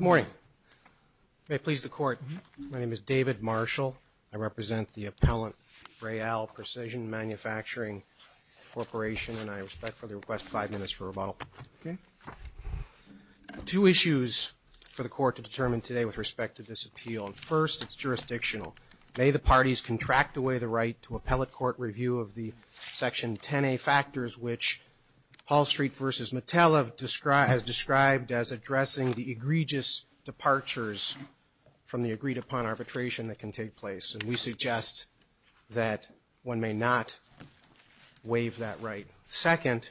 Morning. May it please the court. My name is David Marshall. I represent the Appellant Braille Precision Manufacturing Corporation and I respectfully request five minutes for rebuttal. Two issues for the court to determine today with respect to this appeal. First, it's jurisdictional. May the parties contract away the right to appellate court review of the Section 10A factors which Paul Street v. Metell have described as addressing the egregious departures from the agreed upon arbitration that can take place. And we suggest that one may not waive that right. Second,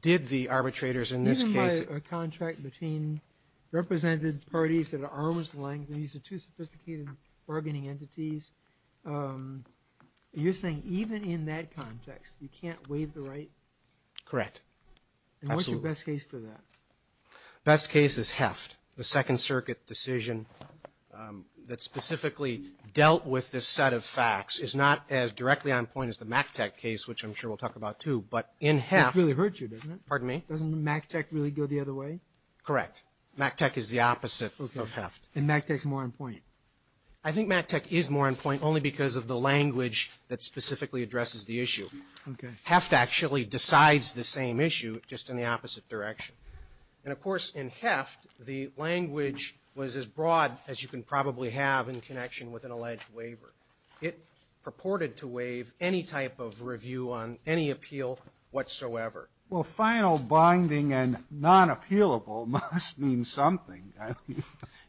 did the arbitrators in this case Even by a contract between represented parties that are arm's length, these are two sophisticated bargaining entities. You're saying even in that context, you can't waive the right? Correct. Absolutely. And what's your best case for that? Best case is Heft. The Second Circuit decision that specifically dealt with this set of facts is not as directly on point as the McTech case, which I'm sure we'll talk about too, but in Heft. It really hurts you, doesn't it? Pardon me? Doesn't McTech really go the other way? Correct. McTech is the opposite of Heft. And McTech's more on point? I think McTech is more on point only because of the language that specifically addresses the issue. Heft actually decides the same issue, just in the opposite direction. And of course, in Heft, the language was as broad as you can probably have in connection with an alleged waiver. It purported to waive any type of review on any appeal whatsoever. Well, final, binding, and non-appealable must mean something.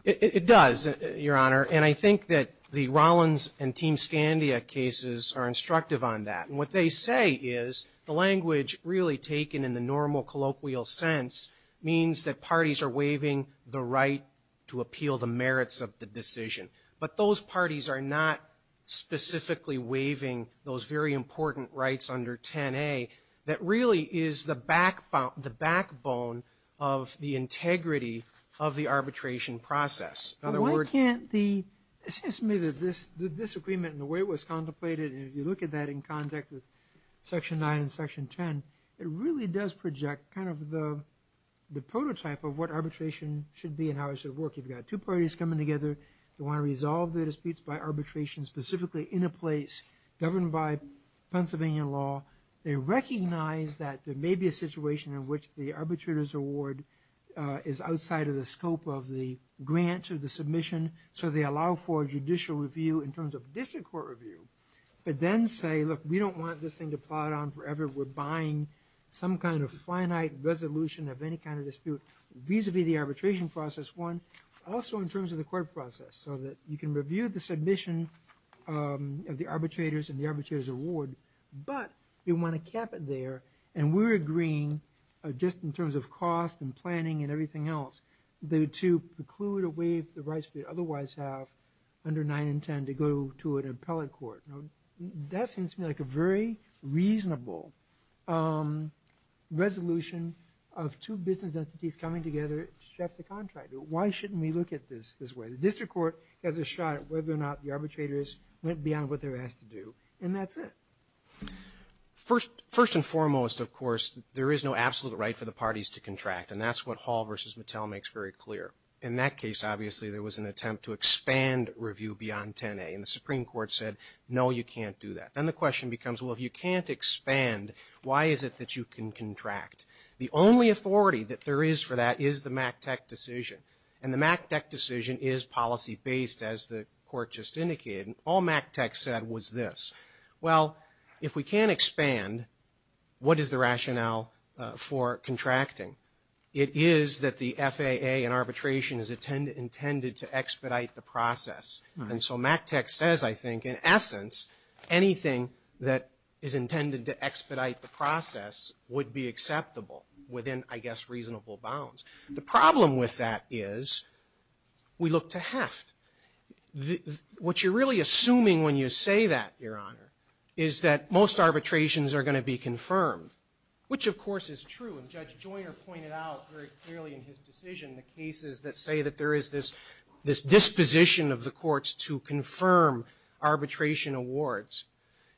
It does, Your Honor. And I think that the Rollins and Team Scandia cases are instructive on that. And what they say is the language really taken in the normal colloquial sense means that parties are waiving the right to appeal the merits of the decision. But those is the backbone of the integrity of the arbitration process. In other words, it seems to me that this agreement and the way it was contemplated, and if you look at that in contact with Section 9 and Section 10, it really does project kind of the prototype of what arbitration should be and how it should work. You've got two parties coming together. They want to resolve their disputes by arbitration, specifically in a place governed by Pennsylvania law. They recognize that there may be a situation in which the arbitrator's award is outside of the scope of the grant or the submission, so they allow for judicial review in terms of district court review, but then say, look, we don't want this thing to plod on forever. We're buying some kind of finite resolution of any kind of dispute vis-a-vis the arbitration process, one. Also in terms of the court process, so that you can review the submission of the grant. What happened there, and we're agreeing just in terms of cost and planning and everything else to preclude a way for the rights we would otherwise have under 9 and 10 to go to an appellate court. That seems to me like a very reasonable resolution of two business entities coming together to draft a contract. Why shouldn't we look at this this way? The district court has a shot at whether or not the arbitrators went beyond what they were asked to do, and that's it. First and foremost, of course, there is no absolute right for the parties to contract, and that's what Hall v. Mattel makes very clear. In that case, obviously, there was an attempt to expand review beyond 10A, and the Supreme Court said, no, you can't do that. Then the question becomes, well, if you can't expand, why is it that you can contract? The only authority that there is for that is the MACTEC decision, and the MACTEC decision is policy-based, as the court just indicated, and all MACTEC said was this. Well, if we can't expand, what is the rationale for contracting? It is that the FAA and arbitration is intended to expedite the process, and so MACTEC says, I think, in essence, anything that is intended to expedite the process would be acceptable within, I guess, reasonable bounds. The problem with that is we look to heft. What you're really assuming when you say that, Your Honor, is that most arbitrations are going to be confirmed, which, of course, is true, and Judge Joyner pointed out very clearly in his decision the cases that say that there is this disposition of the courts to confirm arbitration awards.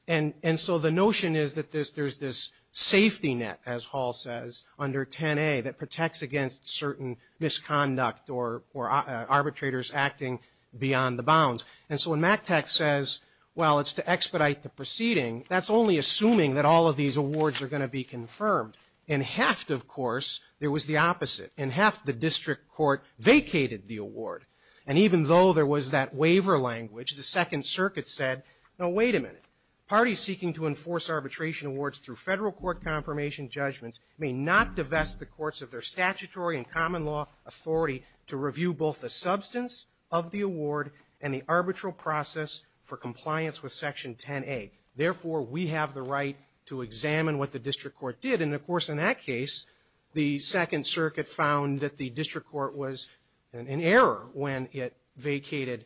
And so the notion is that there's this safety net, as Hall says, under 10A that protects against certain misconduct or arbitrators acting beyond the bounds. And so when MACTEC says, well, it's to expedite the proceeding, that's only assuming that all of these awards are going to be confirmed. In heft, of course, there was the opposite. In heft, the district court vacated the award, and even though there was that waiver language, the Second Circuit said, no, wait a minute. Parties seeking to enforce arbitration awards through Federal Court confirmation judgments may not divest the courts of their statutory and common law authority to review both the substance of the award and the arbitral process for compliance with Section 10A. Therefore, we have the right to examine what the district court did. And, of course, in that case, the Second Circuit found that the district court was in error when it vacated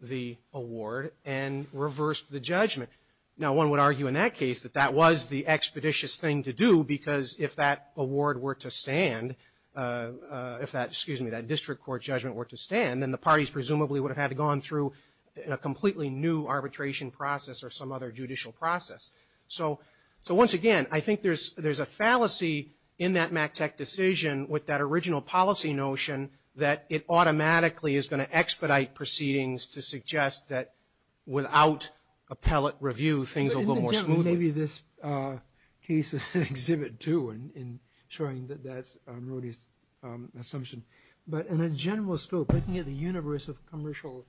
the award and reversed the judgment. Now, one would argue in that case that that was the expeditious action, and that's the expeditious thing to do, because if that award were to stand, if that, excuse me, that district court judgment were to stand, then the parties presumably would have had to go on through a completely new arbitration process or some other judicial process. So once again, I think there's a fallacy in that MACTEC decision with that original policy notion that it automatically is going to expedite proceedings to suggest that without appellate review, things will go more smoothly. Maybe this case was an exhibit, too, in showing that that's Mrody's assumption. But in a general scope, looking at the universe of commercial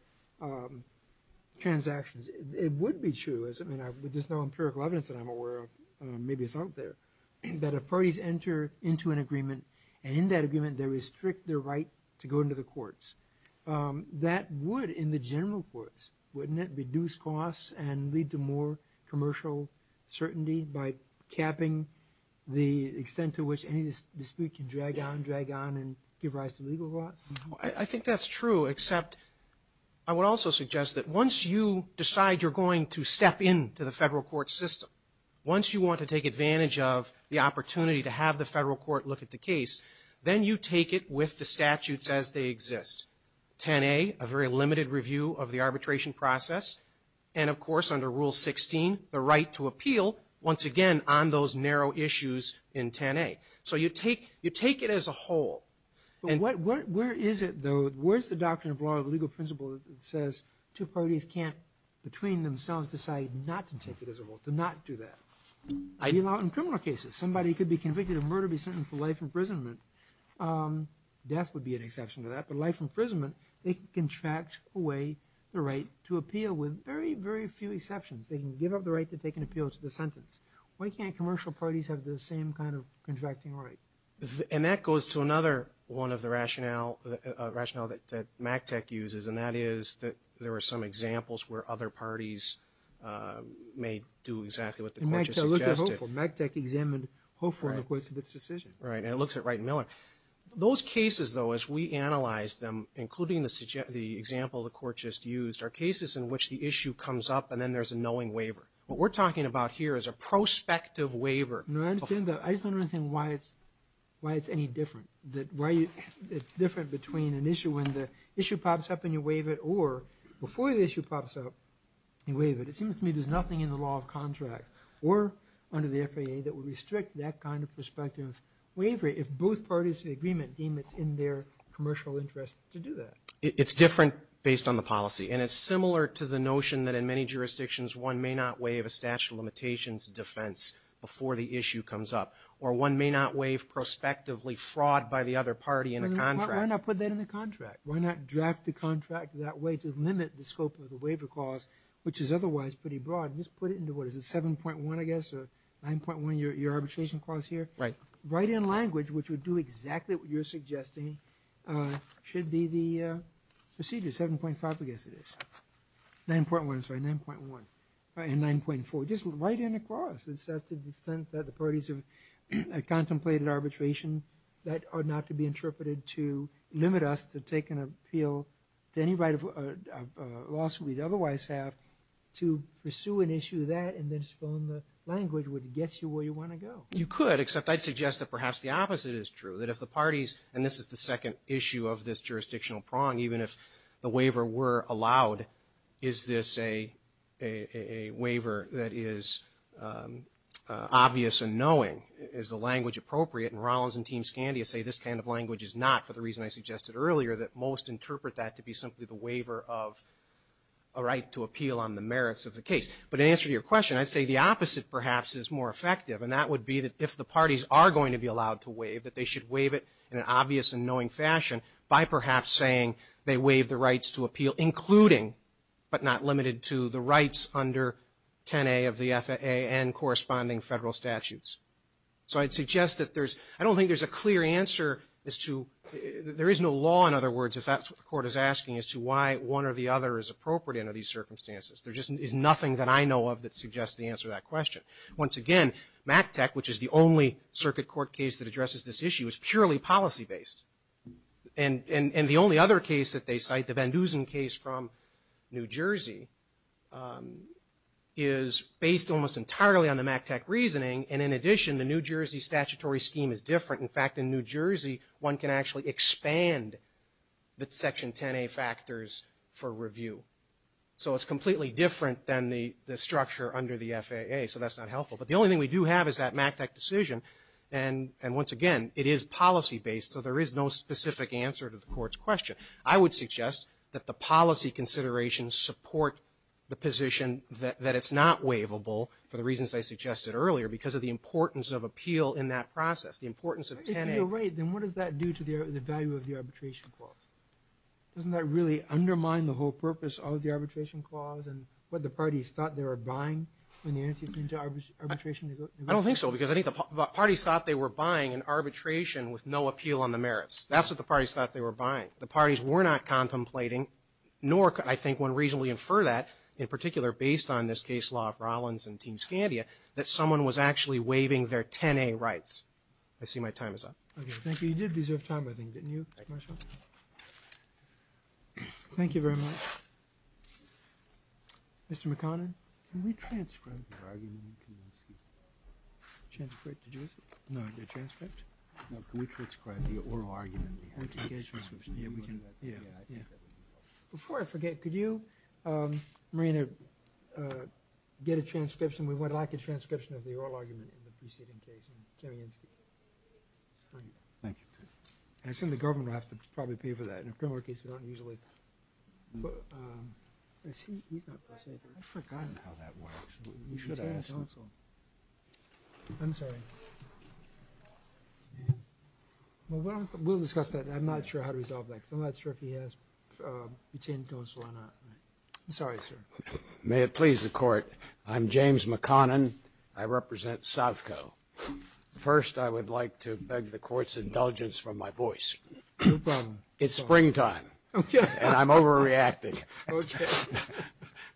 transactions, it would be true, I mean, there's no empirical evidence that I'm aware of, maybe it's out there, that if parties enter into an agreement, and in that agreement they restrict their right to go into the courts, that would, in the general courts, wouldn't it reduce costs and lead to more commercial certainty by capping the extent to which any dispute can drag on, drag on, and give rise to legal loss? I think that's true, except I would also suggest that once you decide you're going to step into the federal court system, once you want to take advantage of the opportunity to have the federal court look at the case, then you take it with the process, and of course, under Rule 16, the right to appeal, once again, on those narrow issues in 10A. So you take it as a whole. But where is it, though, where's the doctrine of law, the legal principle that says two parties can't, between themselves, decide not to take it as a whole, to not do that? I mean, not in criminal cases. Somebody could be convicted of murder, be sentenced to life imprisonment. Death would be an exception to that, but life imprisonment, they can contract away the right to appeal with very, very few exceptions. They can give up the right to take an appeal to the sentence. Why can't commercial parties have the same kind of contracting right? And that goes to another one of the rationale that MACTEC uses, and that is that there were some examples where other parties may do exactly what the court has suggested. And MACTEC examined Hoeffel in the course of its decision. Right, and it looks at Wright and Miller. Those cases, though, as we analyze them, including the example the court just used, are cases in which the issue comes up and then there's a knowing waiver. What we're talking about here is a prospective waiver. No, I understand that. I just don't understand why it's any different. Why it's different between an issue when the issue pops up and you waive it, or before the issue pops up, you waive it. It seems to me there's nothing in the law of contract or under the FAA that would parties to the agreement deem it's in their commercial interest to do that. It's different based on the policy. And it's similar to the notion that in many jurisdictions, one may not waive a statute of limitations defense before the issue comes up. Or one may not waive prospectively fraud by the other party in a contract. Why not put that in the contract? Why not draft the contract that way to limit the scope of the waiver clause, which is otherwise pretty broad, and just put it into, what is it, 7.1, I guess, or 9.1, your arbitration clause here? Right. Write in language which would do exactly what you're suggesting should be the procedure, 7.5, I guess it is, 9.1, I'm sorry, 9.1, and 9.4. Just write in a clause that says to the extent that the parties have contemplated arbitration that are not to be interpreted to limit us to take an appeal to any right of lawsuit we'd otherwise have to pursue an issue of that and then just fill in the language which gets you where you want to go. You could, except I'd suggest that perhaps the opposite is true, that if the parties, and this is the second issue of this jurisdictional prong, even if the waiver were allowed, is this a waiver that is obvious and knowing, is the language appropriate? And Rollins and Team Scandia say this kind of language is not, for the reason I suggested earlier, that most interpret that to be simply the waiver of a right to appeal on the merits of the case. But in answer to your question, I'd say the opposite perhaps is more effective, and that would be that if the parties are going to be allowed to waive, that they should waive it in an obvious and knowing fashion by perhaps saying they waive the rights to appeal, including, but not limited to, the rights under 10A of the FAA and corresponding federal statutes. So I'd suggest that there's, I don't think there's a clear answer as to, there is no law, in other words, if that's what the court is asking, as to why one or the other is appropriate under these circumstances. Once again, MACTEC, which is the only circuit court case that addresses this issue, is purely policy based. And the only other case that they cite, the Van Dusen case from New Jersey, is based almost entirely on the MACTEC reasoning, and in addition, the New Jersey statutory scheme is different. In fact, in New Jersey, one can actually expand the section 10A factors for review. So it's completely different than the structure under the FAA. So that's not helpful. But the only thing we do have is that MACTEC decision. And once again, it is policy based, so there is no specific answer to the court's question. I would suggest that the policy considerations support the position that it's not waivable, for the reasons I suggested earlier, because of the importance of appeal in that process, the importance of 10A. If you're right, then what does that do to the value of the arbitration clause? Doesn't that really undermine the whole purpose of the arbitration clause and what the parties thought they were buying in the antecedent to arbitration? I don't think so, because I think the parties thought they were buying an arbitration with no appeal on the merits. That's what the parties thought they were buying. The parties were not contemplating, nor could I think one reasonably infer that, in particular based on this case law of Rollins and Team Scandia, that someone was actually waiving their 10A rights. I see my time is up. Okay, thank you. You did deserve time, I think, didn't you, Marshall? Thank you very much. Mr. McConnell? Can we transcribe the oral argument behind the case transcription? Yeah, we can. Yeah, yeah. Before I forget, could you, Marina, get a transcription? We would like a transcription of the oral argument in the preceding case. Jim Yinsky. Thank you. I assume the government will have to probably pay for that. In a criminal case, we don't usually. But, I see he's not present here. I've forgotten how that works. You should ask him. I'm sorry. Well, we'll discuss that. I'm not sure how to resolve that, because I'm not sure if he has retained counsel or not. I'm sorry, sir. May it please the court. I'm James McConnell. I represent Southco. First, I would like to beg the court's indulgence from my voice. No problem. It's springtime. And I'm overreacting.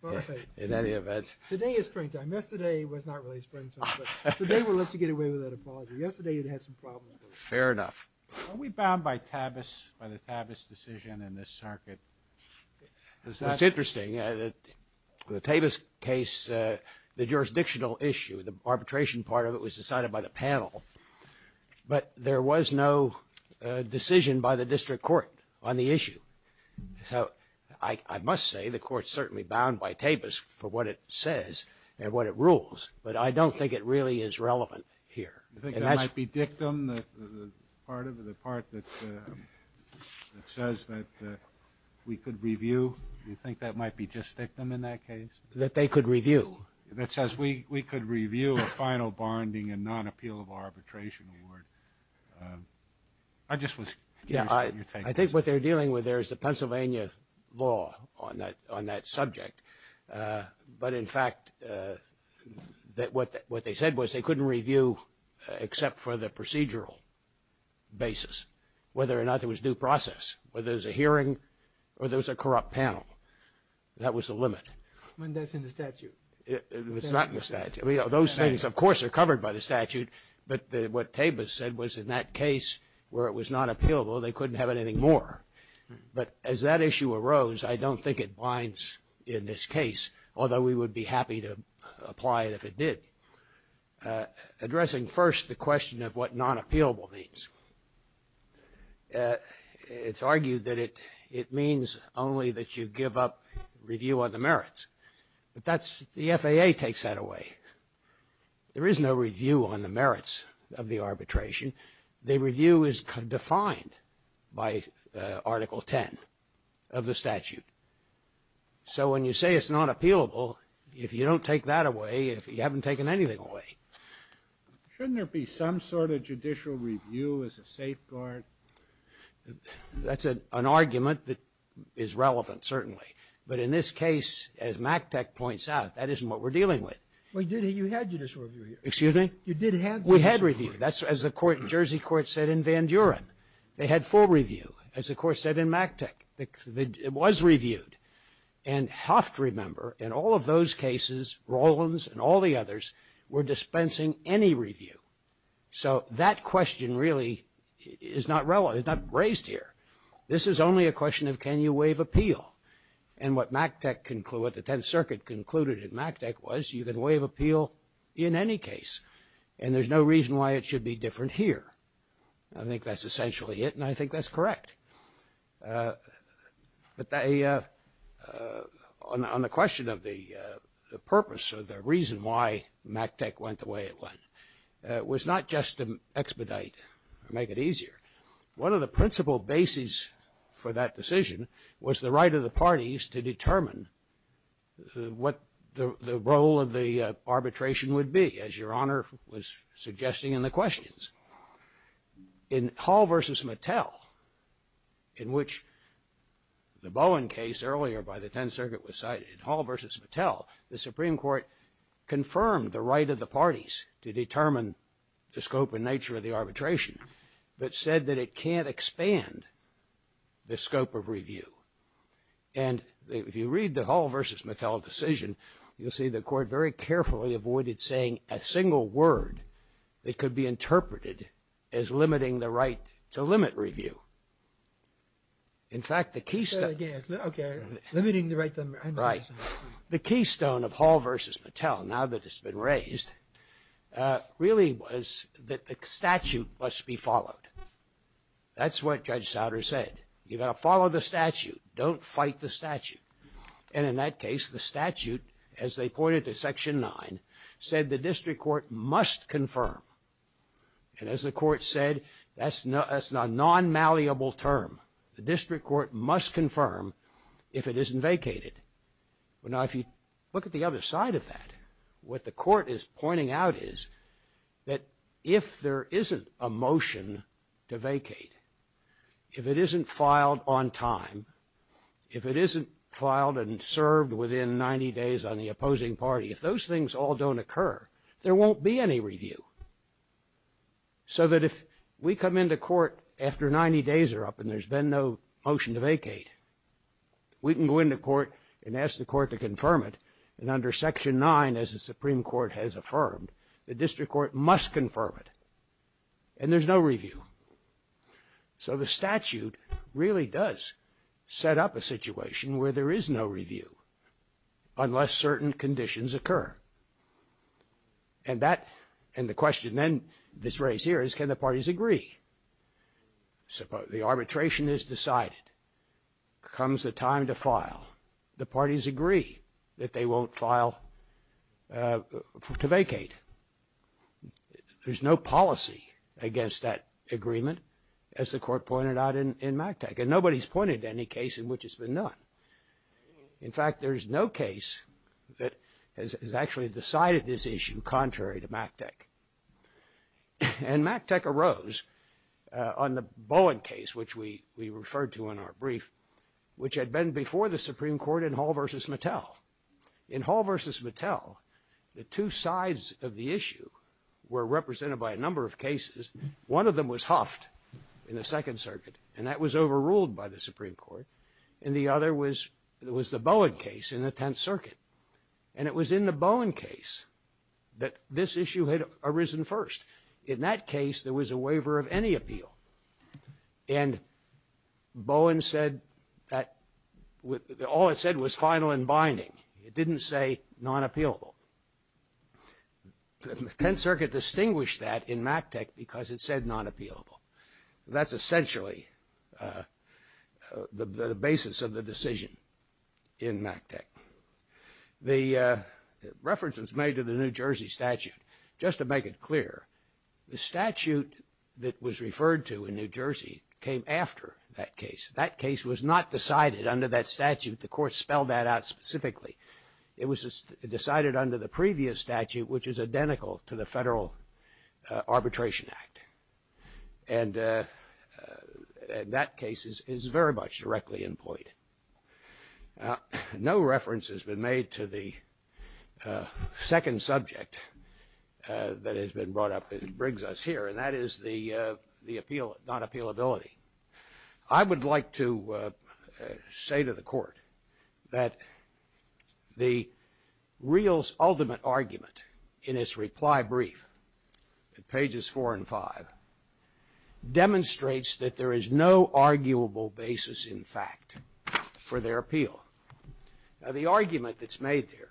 Okay. In any event. Today is springtime. Yesterday was not really springtime. Today we'll let you get away with that apology. Yesterday it had some problems. Fair enough. Are we bound by Tavis, by the Tavis decision in this circuit? That's interesting. The Tavis case, the jurisdictional issue, the arbitration part of it was decided by the panel, but there was no decision by the district court on the issue. So I must say the court's certainly bound by Tavis for what it says and what it rules. But I don't think it really is relevant here. You think that might be dictum, the part that says that we could review? You think that might be just dictum in that case? That they could review? That says we could review a final bonding and non-appeal of arbitration award. I just was curious what your take is. I think what they're dealing with there is the Pennsylvania law on that subject. But in fact, what they said was they couldn't review except for the procedural basis. Whether or not there was due process. Whether there was a hearing or there was a corrupt panel. That was the limit. When that's in the statute. It's not in the statute. Those things, of course, are covered by the statute. But what Tavis said was in that case where it was not appealable, they couldn't have anything more. But as that issue arose, I don't think it binds in this case. Although we would be happy to apply it if it did. Addressing first the question of what non-appealable means. It's argued that it means only that you give up review on the merits. But that's the FAA takes that away. There is no review on the merits of the arbitration. The review is defined by Article 10 of the statute. So when you say it's not appealable, if you don't take that away, you haven't taken anything away. Shouldn't there be some sort of judicial review as a safeguard? That's an argument that is relevant, certainly. But in this case, as MACTEC points out, that isn't what we're dealing with. Well, you had judicial review here. Excuse me? You did have judicial review. We had review. That's as the court, the Jersey court said in Van Duren. They had full review, as the court said in MACTEC. It was reviewed. And have to remember, in all of those cases, Rollins and all the others were dispensing any review. So that question really is not raised here. This is only a question of can you waive appeal. And what MACTEC concluded, the Tenth Circuit concluded in MACTEC was you can waive appeal in any case. And there's no reason why it should be different here. I think that's essentially it, and I think that's correct. But on the question of the purpose or the reason why MACTEC went the way it went, it was not just to expedite or make it easier. One of the principal bases for that decision was the right of the parties to determine what the role of the arbitration would be, as Your Honor was suggesting in the questions. In Hall v. Mattel, in which the Bowen case earlier by the Tenth Circuit was cited, in Hall v. Mattel, the Supreme Court confirmed the right of the parties to determine the scope and nature of the arbitration, but said that it can't expand the scope of review. And if you read the Hall v. Mattel decision, you'll see the court very carefully avoided saying a single word that could be interpreted as limiting the right to limit review. In fact, the keystone of Hall v. Mattel, now that it's been raised, really was that the statute must be followed. That's what Judge Souders said. You've got to follow the statute. Don't fight the statute. And in that case, the statute, as they pointed to Section 9, said the district court must confirm. And as the court said, that's a non-malleable term. The district court must confirm if it isn't vacated. But now if you look at the other side of that, what the court is pointing out is that if there isn't a motion to vacate, if it isn't filed on time, if it isn't filed and served within 90 days on the opposing party, if those things all don't occur, there won't be any review. So that if we come into court after 90 days are up and there's been no motion to vacate, we can go into court and ask the court to confirm it. And under Section 9, as the Supreme Court has affirmed, the district court must confirm it. And there's no review. So the statute really does set up a situation where there is no review unless certain conditions occur. And that, and the question then that's raised here is can the parties agree? So the arbitration is decided. Comes the time to file. The parties agree that they won't file to vacate. There's no policy against that agreement, as the court pointed out in MACTEC. And nobody's pointed to any case in which it's been done. In fact, there's no case that has actually decided this issue contrary to MACTEC. And MACTEC arose on the Bowen case, which we referred to in our brief, which had been before the Supreme Court in Hall v. Mattel. In Hall v. Mattel, the two sides of the issue were represented by a number of cases. One of them was Hufft in the Second Circuit, and that was overruled by the Supreme Court. And the other was the Bowen case in the Tenth Circuit. And it was in the Bowen case that this issue had arisen first. In that case, there was a waiver of any appeal. And Bowen said that all it said was final and binding. It didn't say non-appealable. The Tenth Circuit distinguished that in MACTEC because it said non-appealable. That's essentially the basis of the decision in MACTEC. The reference was made to the New Jersey statute. Just to make it clear, the statute that was referred to in New Jersey came after that case. That case was not decided under that statute. The court spelled that out specifically. It was decided under the previous statute, which is identical to the Federal Arbitration Act. And that case is very much directly in point. Now, no reference has been made to the second subject that has been brought up and brings us here, and that is the appeal, non-appealability. I would like to say to the court that the real ultimate argument in its reply brief at pages 4 and 5 demonstrates that there is no arguable basis, in fact, for their appeal. Now, the argument that's made here,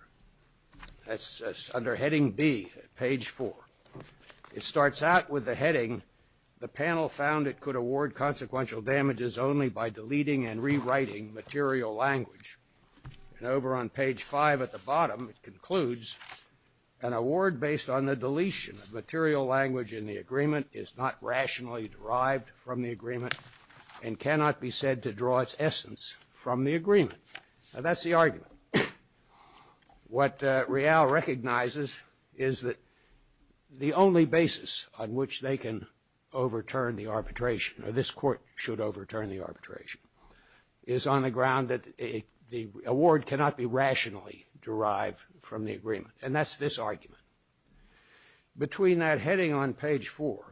that's under heading B, page 4. It starts out with the heading, the panel found it could award consequential damages only by deleting and rewriting material language. And over on page 5 at the bottom, it concludes, an award based on the deletion of material language in the agreement is not rationally derived from the agreement and cannot be said to draw its essence from the agreement. Now, that's the argument. What Real recognizes is that the only basis on which they can overturn the arbitration, or this court should overturn the arbitration, is on the ground that the award cannot be rationally derived from the agreement. And that's this argument. Between that heading on page 4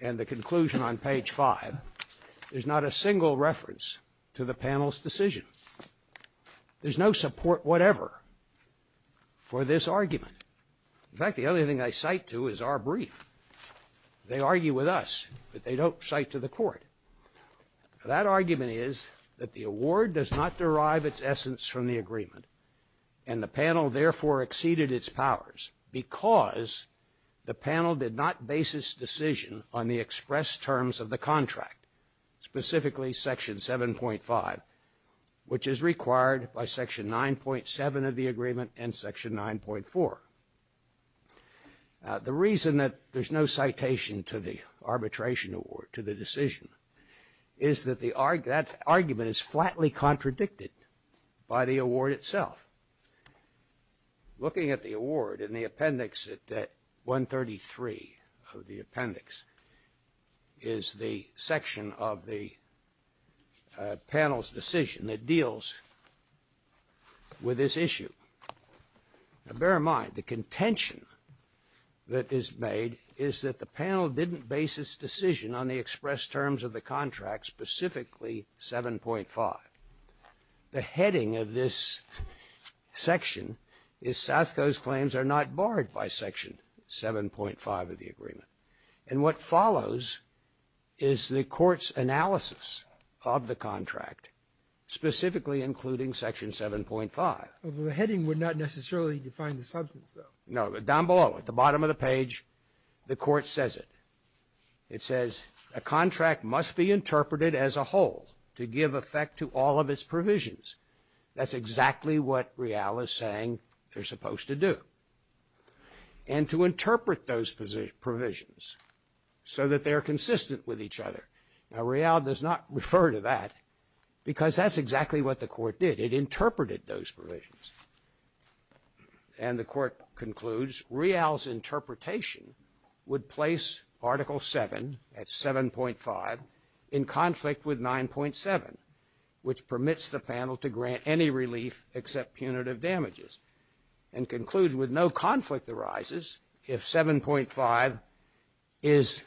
and the conclusion on page 5, there's not a single reference to the panel's decision. There's no support whatever for this argument. In fact, the only thing I cite to is our brief. That argument is that the award does not derive its essence from the agreement and the panel therefore exceeded its powers because the panel did not basis decision on the express terms of the contract, specifically section 7.5, which is required by section 9.7 of the agreement and section 9.4. The reason that there's no citation to the arbitration award, to the decision, is that that argument is flatly contradicted by the award itself. Looking at the award in the appendix at 133 of the appendix is the section of the panel's decision that deals with this issue. Now, bear in mind, the contention that is made is that the panel didn't basis decision on the express terms of the contract, specifically 7.5. The heading of this section is South Coast claims are not barred by section 7.5 of the agreement. And what follows is the court's analysis of the contract, specifically including section 7.5. The heading would not necessarily define the substance, though. No, but down below at the bottom of the page, the court says it. It says a contract must be interpreted as a whole to give effect to all of its provisions. That's exactly what Rial is saying they're supposed to do. And to interpret those provisions so that they're consistent with each other. Now, Rial does not refer to that because that's exactly what the court did. It interpreted those provisions. And the court concludes Rial's interpretation would place Article 7, that's 7.5, in conflict with 9.7, which permits the panel to grant any relief except punitive damages. And concludes with no conflict arises if 7.5 is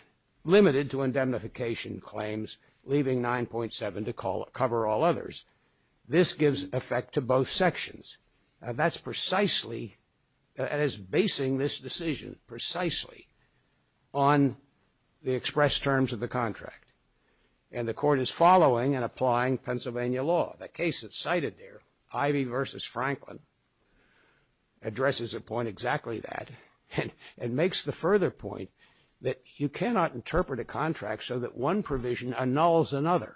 limited to indemnification claims, leaving 9.7 to cover all others. This gives effect to both sections. And that's precisely, and is basing this decision precisely on the expressed terms of the contract. And the court is following and applying Pennsylvania law. The case that's cited there, Ivey versus Franklin, addresses a point exactly that. And makes the further point that you cannot interpret a contract so that one provision annuls another.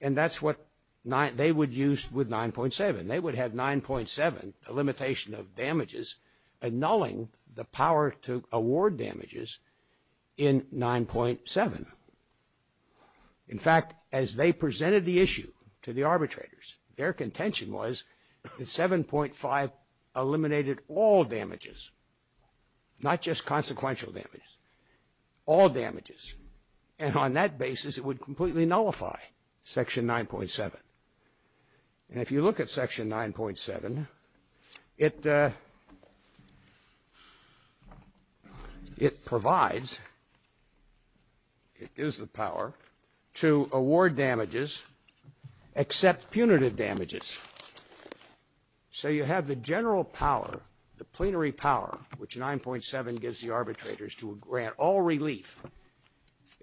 And that's what they would use with 9.7. They would have 9.7, a limitation of damages, annulling the power to award damages in 9.7. In fact, as they presented the issue to the arbitrators, their contention was that 7.5 eliminated all damages, not just consequential damages, all damages. And on that basis, it would completely nullify Section 9.7. And if you look at Section 9.7, it provides, it gives the power to award damages except punitive damages. So you have the general power, the plenary power, which 9.7 gives the arbitrators to grant all relief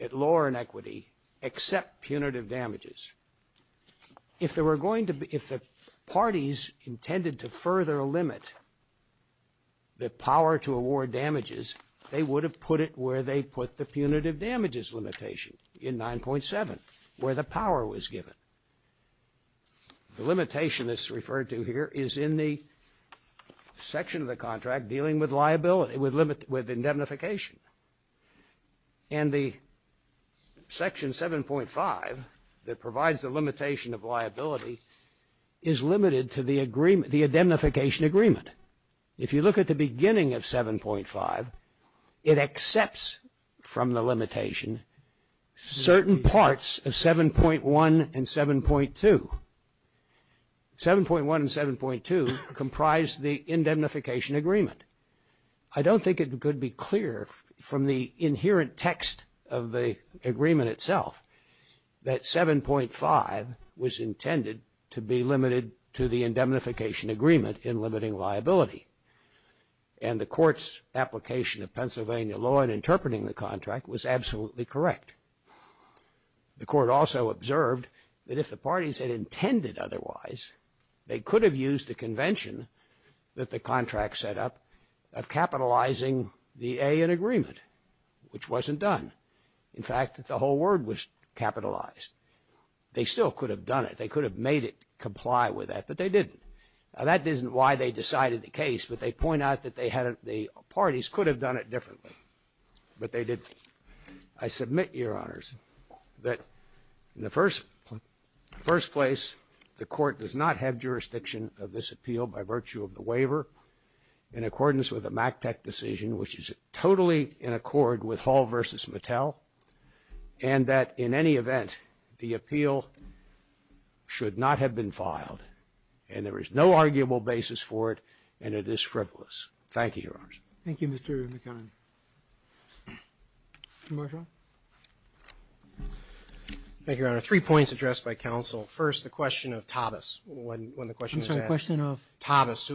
at lower inequity except punitive damages. If there were going to be, if the parties intended to further limit the power to award damages, they would have put it where they put the punitive damages limitation in 9.7, where the power was given. The limitation that's referred to here is in the section of the contract dealing with liability, with indemnification. And the Section 7.5 that provides the limitation of liability is limited to the agreement, the indemnification agreement. If you look at the beginning of 7.5, it accepts from the limitation certain parts of 7.1 and 7.2. 7.1 and 7.2 comprise the indemnification agreement. I don't think it could be clear from the inherent text of the agreement itself that 7.5 was intended to be limited to the indemnification agreement in limiting liability. And the court's application of Pennsylvania law in interpreting the contract was absolutely correct. The court also observed that if the parties had intended otherwise, they could have used the convention that the contract set up of capitalizing the A in agreement, which wasn't done. In fact, the whole word was capitalized. They still could have done it. They could have made it comply with that, but they didn't. Now, that isn't why they decided the case, but they point out that they had the parties could have done it differently, but they didn't. I submit, Your Honors, that in the first place, the court does not have jurisdiction of this appeal by virtue of the waiver in accordance with the MACTEC decision, which is totally in accord with Hall v. Mattel, and that in any event, the appeal should not have been filed. And there is no arguable basis for it, and it is frivolous. Thank you, Your Honors. Thank you, Mr. McKinnon. Mr. Marshall? Thank you, Your Honor. Three points addressed by counsel. First, the question of Tavis, when the question was asked. I'm sorry, the question of? Tavis.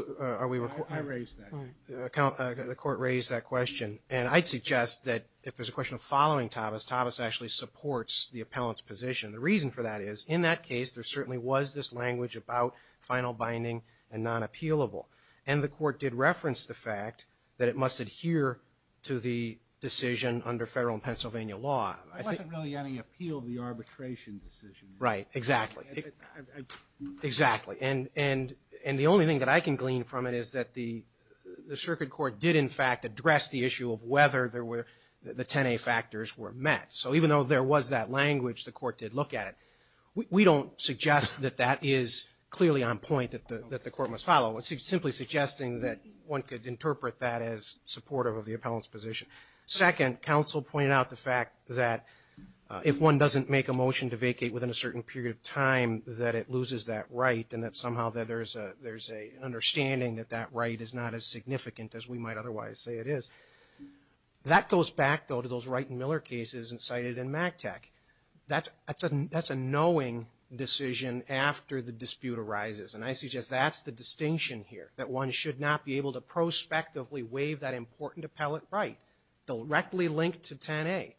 I raised that. The court raised that question, and I'd suggest that if there's a question of following Tavis, Tavis actually supports the appellant's position. The reason for that is, in that case, there certainly was this language about final binding and non-appealable, and the court did reference the fact that it must adhere to the decision under federal and Pennsylvania law. There wasn't really any appeal of the arbitration decision. Right, exactly. Exactly. And the only thing that I can glean from it is that the circuit court did, in fact, address the issue of whether the 10A factors were met. So even though there was that language, the court did look at it. We don't suggest that that is clearly on point that the court must follow. Simply suggesting that one could interpret that as supportive of the appellant's position. Second, counsel pointed out the fact that if one doesn't make a motion to vacate within a certain period of time, that it loses that right, and that somehow there's an understanding that that right is not as significant as we might otherwise say it is. That goes back, though, to those Wright and Miller cases cited in MACTEC. That's a knowing decision after the dispute arises, and I suggest that's a distinction here, that one should not be able to prospectively waive that important appellate right directly linked to 10A.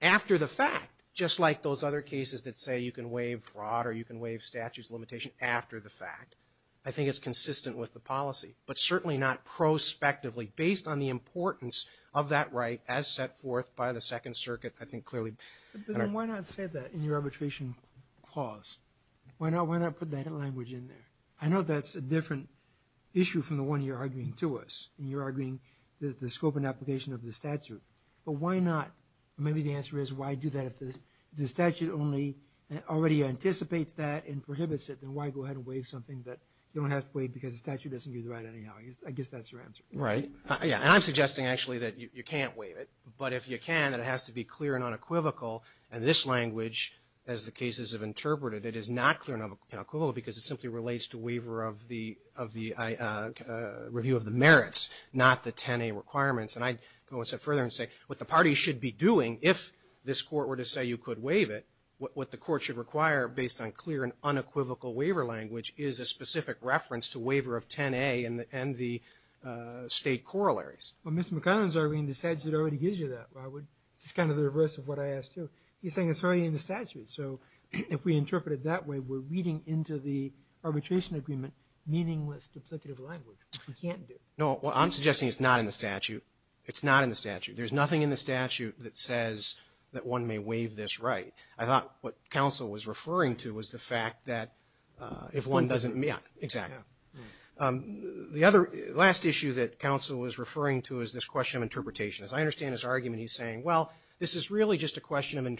After the fact, just like those other cases that say you can waive fraud or you can waive statutes of limitation after the fact, I think it's consistent with the policy, but certainly not prospectively based on the importance of that right as set forth by the Second Circuit, I think, clearly. But then why not say that in your arbitration clause? Why not put that language in there? I know that's a different issue from the one you're arguing to us, and you're arguing the scope and application of the statute. But why not? Maybe the answer is why do that if the statute only already anticipates that and prohibits it, then why go ahead and waive something that you don't have to waive because the statute doesn't give the right anyhow? I guess that's your answer. Right. Yeah, and I'm suggesting, actually, that you can't waive it, but if you can, that it has to be clear and unequivocal, and this language, as the cases have interpreted, it is not clear and unequivocal because it simply relates to waiver of the review of the merits, not the 10A requirements. And I'd go a step further and say what the parties should be doing if this court were to say you could waive it, what the court should require based on clear and unequivocal waiver language is a specific reference to waiver of 10A and the state corollaries. Well, Mr. McConnell is arguing the statute already gives you that. Why would, this is kind of the reverse of what I asked you. He's saying it's already in the statute. So if we interpret it that way, we're reading into the arbitration agreement meaningless duplicative language. We can't do it. No, I'm suggesting it's not in the statute. It's not in the statute. There's nothing in the statute that says that one may waive this right. I thought what counsel was referring to was the fact that if one doesn't, yeah, exactly. The other, last issue that counsel was referring to is this question of interpretation. As I understand his argument, he's saying, well, this is really just a foot in the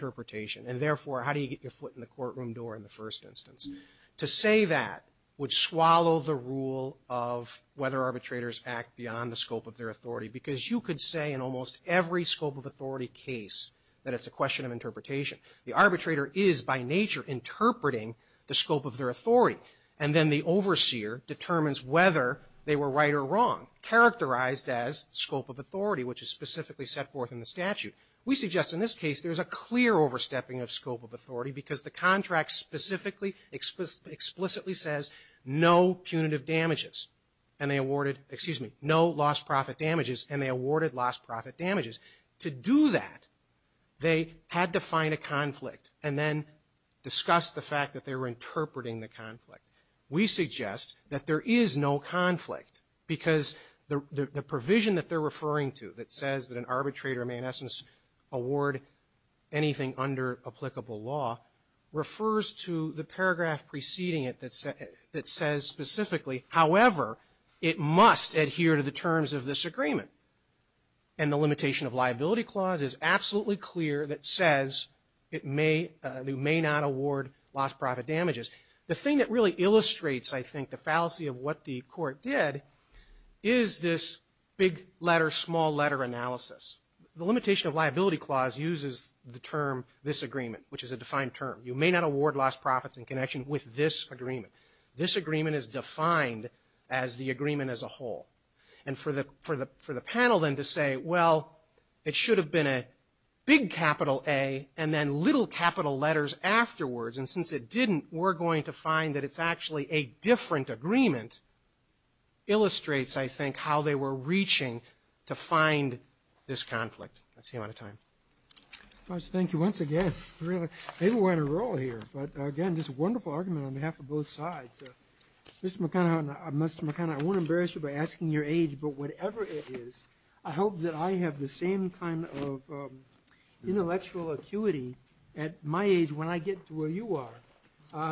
courtroom door in the first instance. To say that would swallow the rule of whether arbitrators act beyond the scope of their authority because you could say in almost every scope of authority case that it's a question of interpretation. The arbitrator is by nature interpreting the scope of their authority. And then the overseer determines whether they were right or wrong, characterized as scope of authority, which is specifically set forth in the statute. We suggest in this case there's a clear overstepping of scope of authority because the contract specifically, explicitly says no punitive damages. And they awarded, excuse me, no lost profit damages and they awarded lost profit damages. To do that, they had to find a conflict and then discuss the fact that they were interpreting the conflict. We suggest that there is no conflict because the provision that they're award anything under applicable law refers to the paragraph preceding it that says specifically, however, it must adhere to the terms of this agreement. And the limitation of liability clause is absolutely clear that says it may, they may not award lost profit damages. The thing that really illustrates, I think, the fallacy of what the court did is this big letter, small letter analysis. The limitation of liability clause uses the term, this agreement, which is a defined term. You may not award lost profits in connection with this agreement. This agreement is defined as the agreement as a whole. And for the panel then to say, well, it should have been a big capital A and then little capital letters afterwards. And since it didn't, we're going to find that it's actually a different agreement illustrates, I think, how they were reaching to find this conflict. I see a lot of time. I just thank you once again, really. Maybe we're on a roll here, but again, just a wonderful argument on behalf of both sides. Mr. McConaughey, Mr. McConaughey, I won't embarrass you by asking your age, but whatever it is, I hope that I have the same kind of intellectual acuity at my age when I get to where you are.